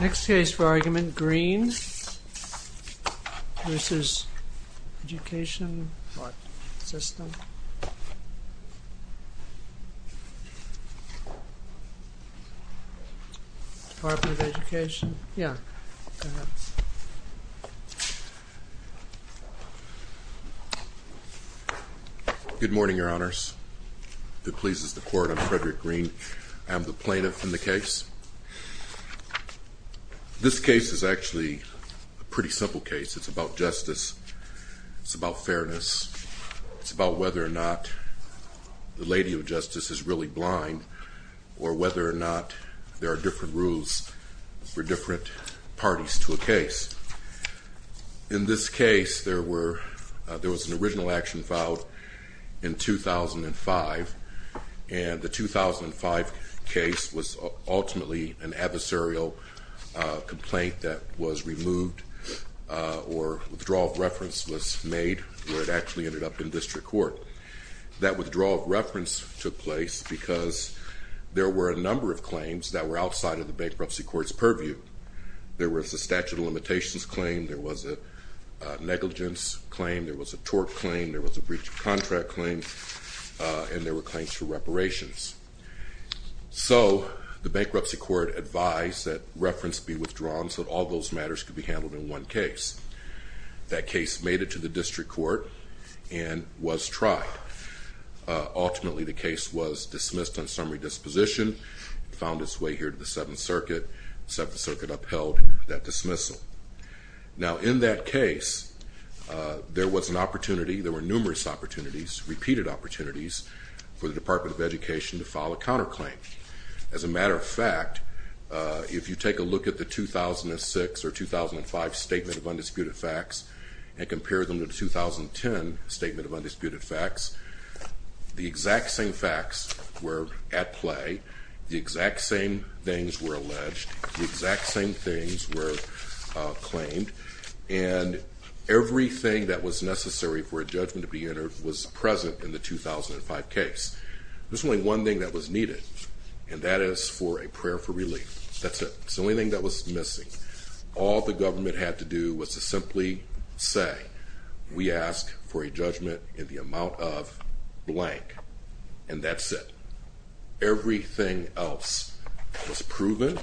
Next case for argument, Greene v. Education, Department of Education, yeah, go ahead. Good morning, your honors. It pleases the court, I'm Frederick Greene. I am the plaintiff in the case. This case is actually a pretty simple case. It's about justice. It's about fairness. It's about whether or not the lady of justice is really blind, or whether or not there are different rules for different parties to a case. In this case, there was an original action filed in 2005, and the 2005 case was ultimately an adversarial complaint that was removed, or withdrawal of reference was made where it actually ended up in district court. That withdrawal of reference took place because there were a number of claims that were outside of the bankruptcy court's purview. There was a statute of limitations claim, there was a negligence claim, there was a tort claim, there was a breach of contract claim, and there were claims for reparations. So, the bankruptcy court advised that reference be withdrawn so that all those matters could be handled in one case. That case made it to the district court and was tried. Ultimately, the case was dismissed on summary disposition, found its way here to the Seventh Circuit. The Seventh Circuit upheld that dismissal. Now, in that case, there was an opportunity, there were numerous opportunities, repeated opportunities, for the Department of Education to file a counterclaim. As a matter of fact, if you take a look at the 2006 or 2005 Statement of Undisputed Facts and compare them to the 2010 Statement of Undisputed Facts, the exact same facts were at play, the exact same things were alleged, the exact same things were claimed, and everything that was necessary for a judgment to be entered was present in the 2005 case. There's only one thing that was needed, and that is for a prayer for relief. That's it. It's the only thing that was missing. All the government had to do was to simply say, we ask for a judgment in the amount of blank, and that's it. Everything else was proven,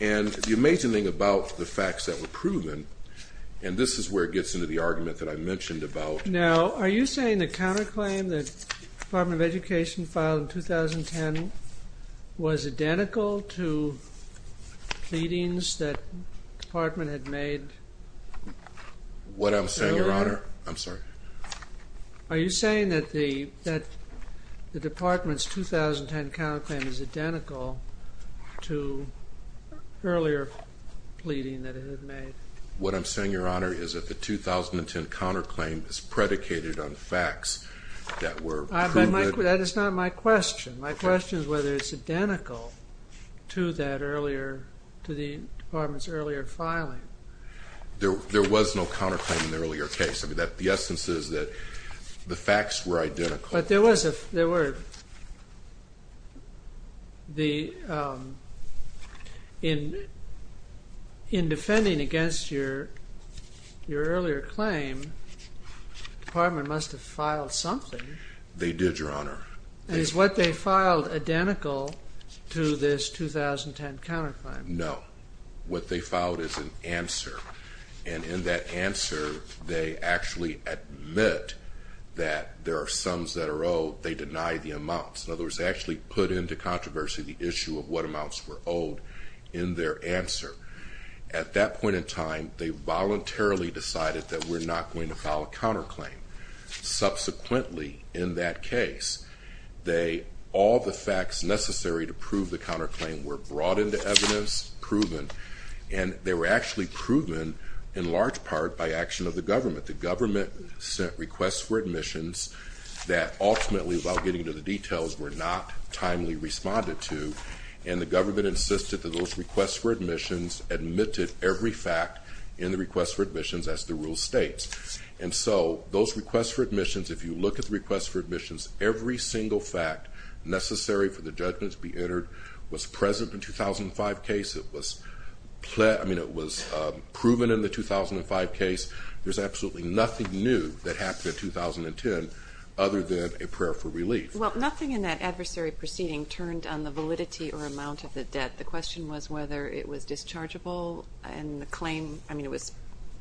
and the amazing thing about the facts that were proven, and this is where it gets into the argument that I mentioned about... The Department of Education filed in 2010 was identical to pleadings that the Department had made earlier? What I'm saying, Your Honor, I'm sorry? Are you saying that the Department's 2010 counterclaim is identical to earlier pleading that it had made? What I'm saying, Your Honor, is that the 2010 counterclaim is predicated on facts that were proven. That is not my question. My question is whether it's identical to the Department's earlier filing. There was no counterclaim in the earlier case. The essence is that the facts were identical. In defending against your earlier claim, the Department must have filed something. They did, Your Honor. Is what they filed identical to this 2010 counterclaim? No. What they filed is an answer, and in that answer, they actually admit that there are sums that are owed. They deny the amounts. In other words, they actually put into controversy the issue of what amounts were owed in their answer. At that point in time, they voluntarily decided that we're not going to file a counterclaim. Subsequently, in that case, all the facts necessary to prove the counterclaim were brought into evidence, proven, and they were actually proven in large part by action of the government. The government sent requests for admissions that ultimately, without getting into the details, were not timely responded to, and the government insisted that those requests for admissions admitted every fact in the requests for admissions as the rule states. And so those requests for admissions, if you look at the requests for admissions, every single fact necessary for the judgment to be entered was present in the 2005 case. It was proven in the 2005 case. There's absolutely nothing new that happened in 2010 other than a prayer for relief. Well, nothing in that adversary proceeding turned on the validity or amount of the debt. The question was whether it was dischargeable, and the claim, I mean, it was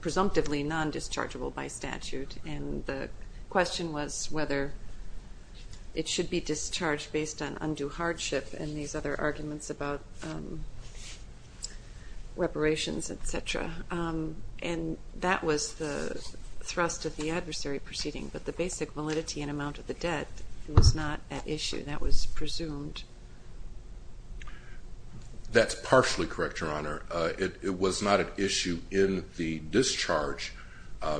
presumptively non-dischargeable by statute, and the question was whether it should be discharged based on undue hardship and these other arguments about reparations, et cetera. And that was the thrust of the adversary proceeding, but the basic validity and amount of the debt was not at issue. That was presumed. That's partially correct, Your Honor. It was not at issue in the discharge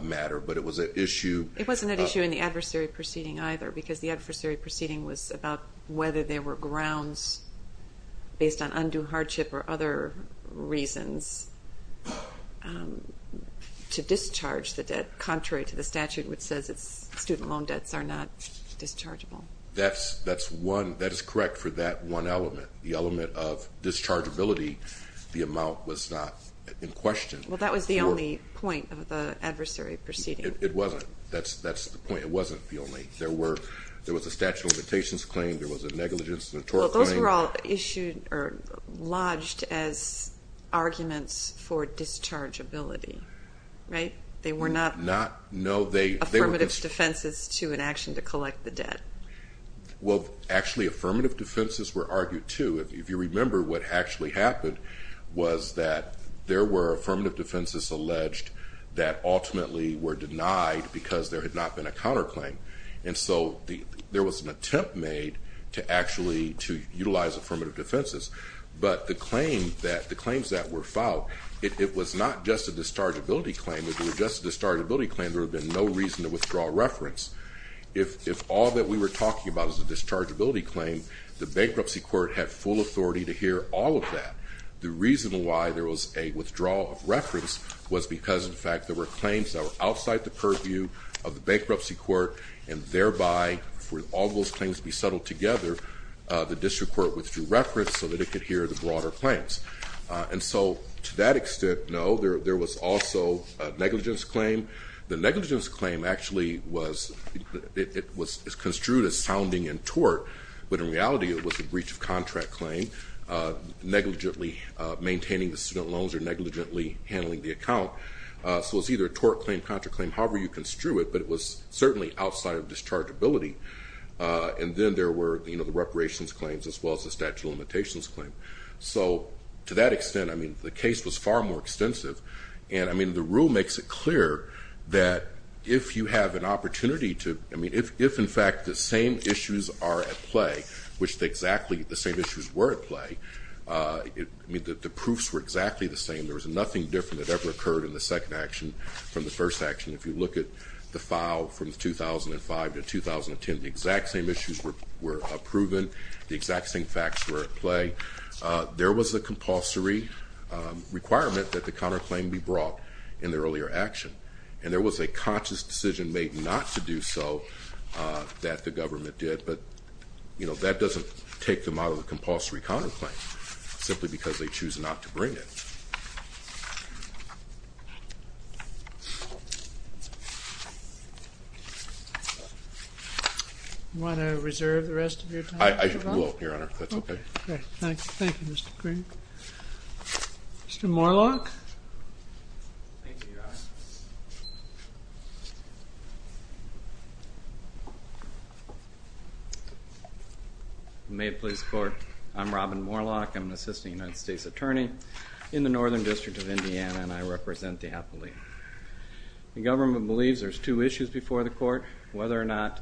matter, but it was at issue. It wasn't at issue in the adversary proceeding either, because the adversary proceeding was about whether there were grounds based on undue hardship or other reasons to discharge the debt contrary to the statute which says student loan debts are not dischargeable. That is correct for that one element. The element of dischargeability, the amount was not in question. Well, that was the only point of the adversary proceeding. It wasn't. That's the point. It wasn't the only. There was a statute of limitations claim. There was a negligence and a tort claim. Those were all lodged as arguments for dischargeability, right? They were not affirmative defenses to an action to collect the debt. Well, actually, affirmative defenses were argued too. If you remember, what actually happened was that there were affirmative defenses alleged that ultimately were denied because there had not been a counterclaim, and so there was an attempt made to actually utilize affirmative defenses. But the claims that were filed, it was not just a dischargeability claim. If it were just a dischargeability claim, there would have been no reason to withdraw reference. If all that we were talking about is a dischargeability claim, the bankruptcy court had full authority to hear all of that. The reason why there was a withdrawal of reference was because, in fact, there were claims that were outside the purview of the bankruptcy court, and thereby, for all those claims to be settled together, the district court withdrew reference so that it could hear the broader claims. And so to that extent, no, there was also a negligence claim. The negligence claim actually was construed as sounding in tort, but in reality it was a breach of contract claim, negligently maintaining the student loans or negligently handling the account. So it was either a tort claim, contract claim, however you construe it, but it was certainly outside of dischargeability. And then there were the reparations claims as well as the statute of limitations claim. So to that extent, I mean, the case was far more extensive. And I mean, the rule makes it clear that if you have an opportunity to, I mean, if in fact the same issues are at play, which exactly the same issues were at play, I mean, the proofs were exactly the same. There was nothing different that ever occurred in the second action from the first action. If you look at the file from 2005 to 2010, the exact same issues were proven. The exact same facts were at play. There was a compulsory requirement that the counterclaim be brought in the earlier action, and there was a conscious decision made not to do so that the government did. But, you know, that doesn't take them out of the compulsory counterclaim simply because they choose not to bring it. Do you want to reserve the rest of your time? I will, Your Honor. That's okay. Okay. Thank you. Thank you, Mr. Green. Mr. Moorlach? Thank you, Your Honor. The Maine Police Court. I'm Robin Moorlach. I'm an assistant United States attorney. In the Northern District of Indiana, and I represent the Appalachian. The government believes there's two issues before the court. Whether or not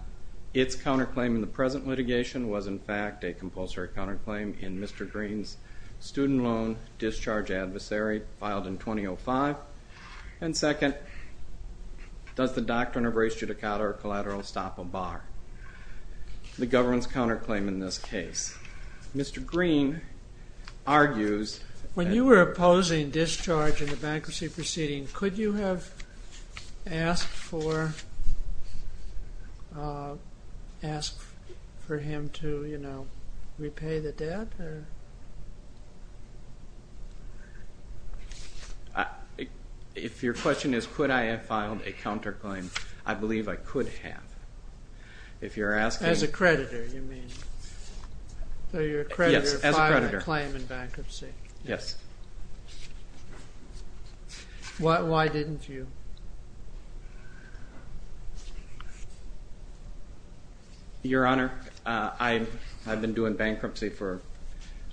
its counterclaim in the present litigation was, in fact, a compulsory counterclaim in Mr. Green's student loan discharge adversary filed in 2005. And second, does the doctrine of res judicata or collateral stop a bar? The government's counterclaim in this case. Mr. Green argues that... When you were opposing discharge in the bankruptcy proceeding, could you have asked for him to, you know, repay the debt? If your question is could I have filed a counterclaim, I believe I could have. If you're asking... As a creditor, you mean. So you're a creditor filing a claim in bankruptcy. Yes. Why didn't you? Your Honor, I've been doing bankruptcy for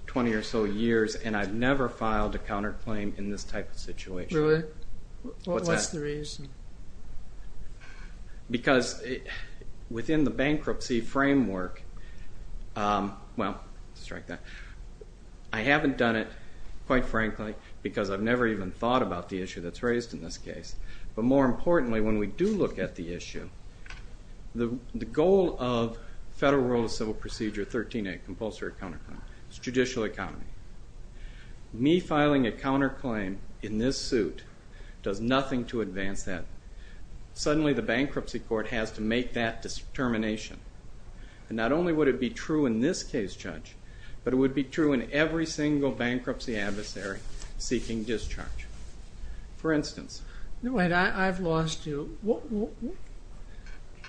20 or so years, and I've never filed a counterclaim in this type of situation. Really? What's the reason? Because within the bankruptcy framework, well, let's strike that. I haven't done it, quite frankly, because I've never even thought about the issue that's raised in this case. But more importantly, when we do look at the issue, the goal of Federal Rule of Civil Procedure 13A, compulsory counterclaim, is judicial economy. Me filing a counterclaim in this suit does nothing to advance that. Suddenly the bankruptcy court has to make that determination. And not only would it be true in this case, Judge, but it would be true in every single bankruptcy adversary seeking discharge. For instance... Wait, I've lost you.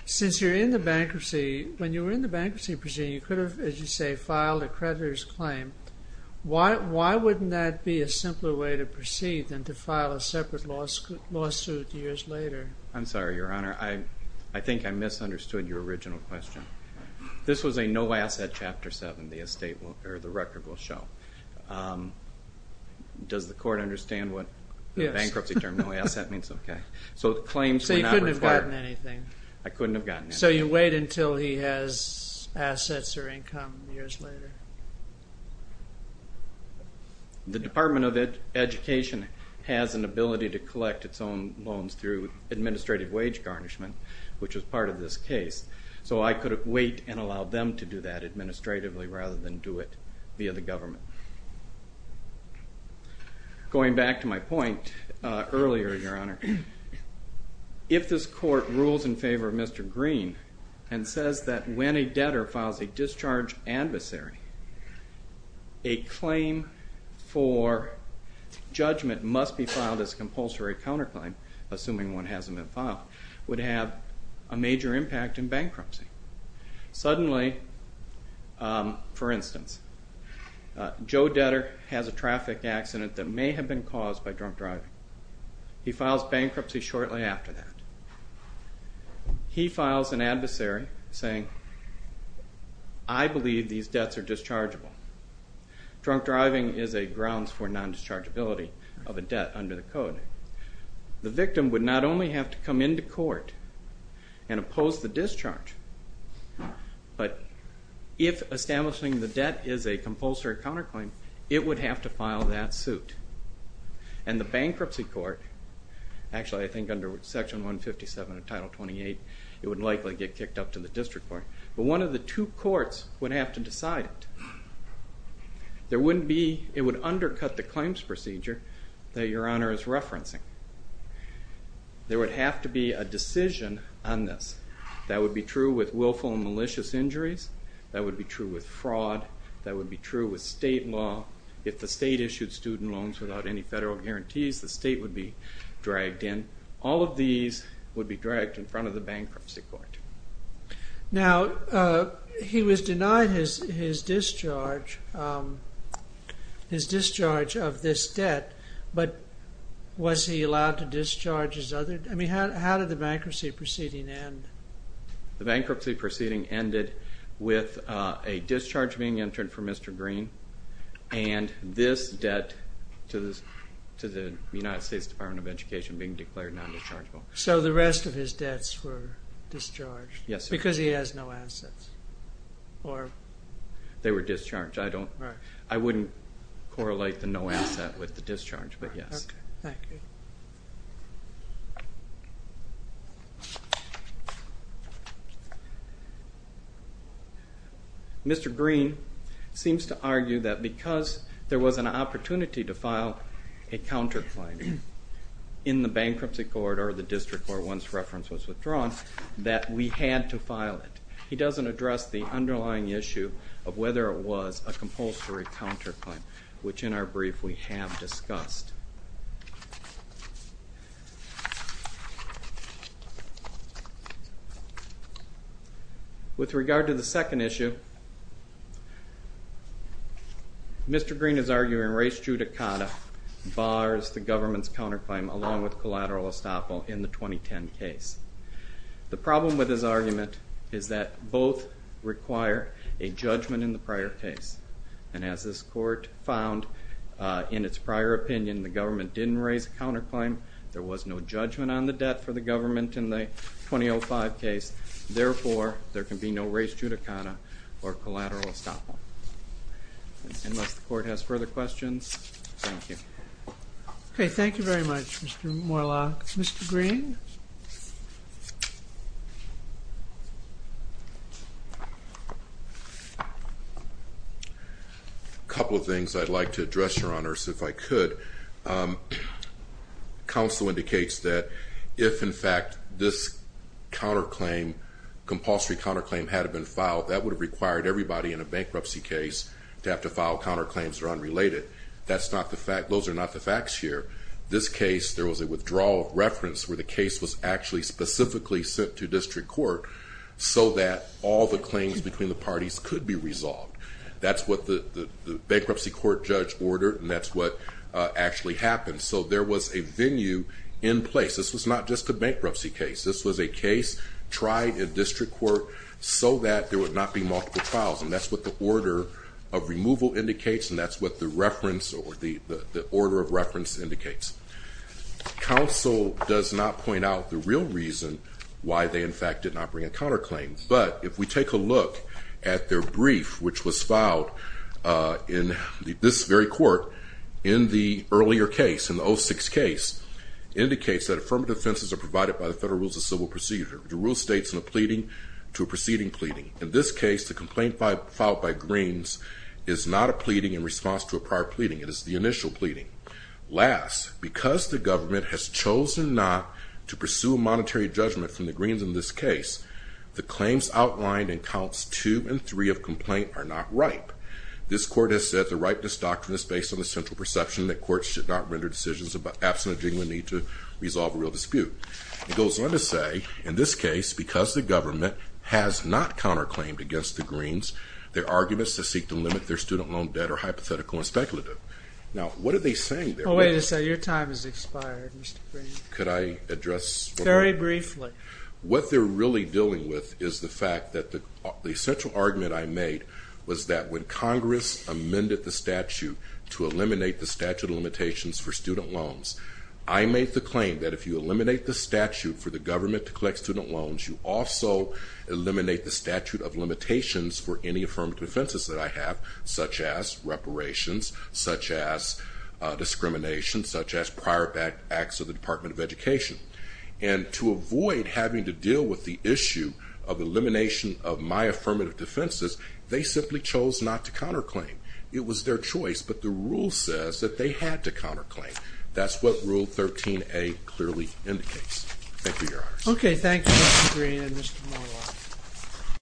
Since you're in the bankruptcy, when you were in the bankruptcy proceeding, you could have, as you say, filed a creditor's claim. Why wouldn't that be a simpler way to proceed than to file a separate lawsuit years later? I'm sorry, Your Honor. I think I misunderstood your original question. This was a no-asset Chapter 7. The record will show. Does the court understand what the bankruptcy term no-asset means? Okay. So you couldn't have gotten anything. I couldn't have gotten anything. And so you wait until he has assets or income years later. The Department of Education has an ability to collect its own loans through administrative wage garnishment, which was part of this case. So I could wait and allow them to do that administratively rather than do it via the government. Going back to my point earlier, Your Honor, if this court rules in favor of Mr. Green and says that when a debtor files a discharge adversary, a claim for judgment must be filed as compulsory counterclaim, assuming one hasn't been filed, would have a major impact in bankruptcy. Suddenly, for instance, Joe Debtor has a traffic accident that may have been caused by drunk driving. He files bankruptcy shortly after that. He files an adversary saying, I believe these debts are dischargeable. Drunk driving is a grounds for non-dischargeability of a debt under the code. The victim would not only have to come into court and oppose the discharge, but if establishing the debt is a compulsory counterclaim, it would have to file that suit. And the bankruptcy court, actually I think under Section 157 of Title 28, it would likely get kicked up to the district court, but one of the two courts would have to decide it. It would undercut the claims procedure that Your Honor is referencing. There would have to be a decision on this. That would be true with willful and malicious injuries. That would be true with fraud. That would be true with state law. If the state issued student loans without any federal guarantees, the state would be dragged in. All of these would be dragged in front of the bankruptcy court. Now, he was denied his discharge of this debt, but was he allowed to discharge his other... I mean, how did the bankruptcy proceeding end? The bankruptcy proceeding ended with a discharge being entered for Mr. Green and this debt to the United States Department of Education being declared non-dischargeable. So the rest of his debts were discharged? Yes, sir. Because he has no assets? They were discharged. I wouldn't correlate the no asset with the discharge, but yes. Okay, thank you. Mr. Green seems to argue that because there was an opportunity to file a counterclaim in the bankruptcy court or the district where one's reference was withdrawn, that we had to file it. He doesn't address the underlying issue of whether it was a compulsory counterclaim, which in our brief we have discussed. With regard to the second issue, Mr. Green is arguing race judicata bars the government's counterclaim along with collateral estoppel in the 2010 case. The problem with his argument is that both require a judgment in the prior case, and as this court found in its prior opinion, the government didn't raise a counterclaim, there was no judgment on the debt for the government in the 2005 case, therefore there can be no race judicata or collateral estoppel. Unless the court has further questions, thank you. Okay, thank you very much, Mr. Moorlach. Mr. Green? A couple of things I'd like to address, Your Honors, if I could. Counsel indicates that if, in fact, this counterclaim, compulsory counterclaim, had it been filed, that would have required everybody in a bankruptcy case to have to file counterclaims that are unrelated. Those are not the facts here. This case, there was a withdrawal of reference where the case was actually specifically sent to district court so that all the claims between the parties could be resolved. That's what the bankruptcy court judge ordered, and that's what actually happened. So there was a venue in place. This was not just a bankruptcy case. This was a case tried in district court so that there would not be multiple files, and that's what the order of removal indicates, and that's what the reference or the order of reference indicates. Counsel does not point out the real reason why they, in fact, did not bring a counterclaim. But if we take a look at their brief, which was filed in this very court in the earlier case, in the 06 case, indicates that affirmative offenses are provided by the Federal Rules of Civil Procedure. The rule states in a pleading to a preceding pleading. In this case, the complaint filed by Greens is not a pleading in response to a prior pleading. It is the initial pleading. Last, because the government has chosen not to pursue a monetary judgment from the Greens in this case, the claims outlined in counts 2 and 3 of complaint are not ripe. This court has said the ripeness doctrine is based on the central perception that courts should not render decisions absent a genuine need to resolve a real dispute. It goes on to say, in this case, because the government has not counterclaimed against the Greens, their arguments to seek to limit their student loan debt are hypothetical and speculative. Now, what are they saying there? Oh, wait a second. Your time has expired, Mr. Green. Could I address... Very briefly. What they're really dealing with is the fact that the central argument I made was that when Congress amended the statute to eliminate the statute of limitations for student loans, I made the claim that if you eliminate the statute for the government to collect student loans, you also eliminate the statute of limitations for any affirmative defenses that I have, such as reparations, such as discrimination, such as prior acts of the Department of Education. And to avoid having to deal with the issue of elimination of my affirmative defenses, they simply chose not to counterclaim. It was their choice, but the rule says that they had to counterclaim. That's what Rule 13a clearly indicates. Thank you, Your Honor. Okay, thanks, Mr. Green and Mr. Monlaw.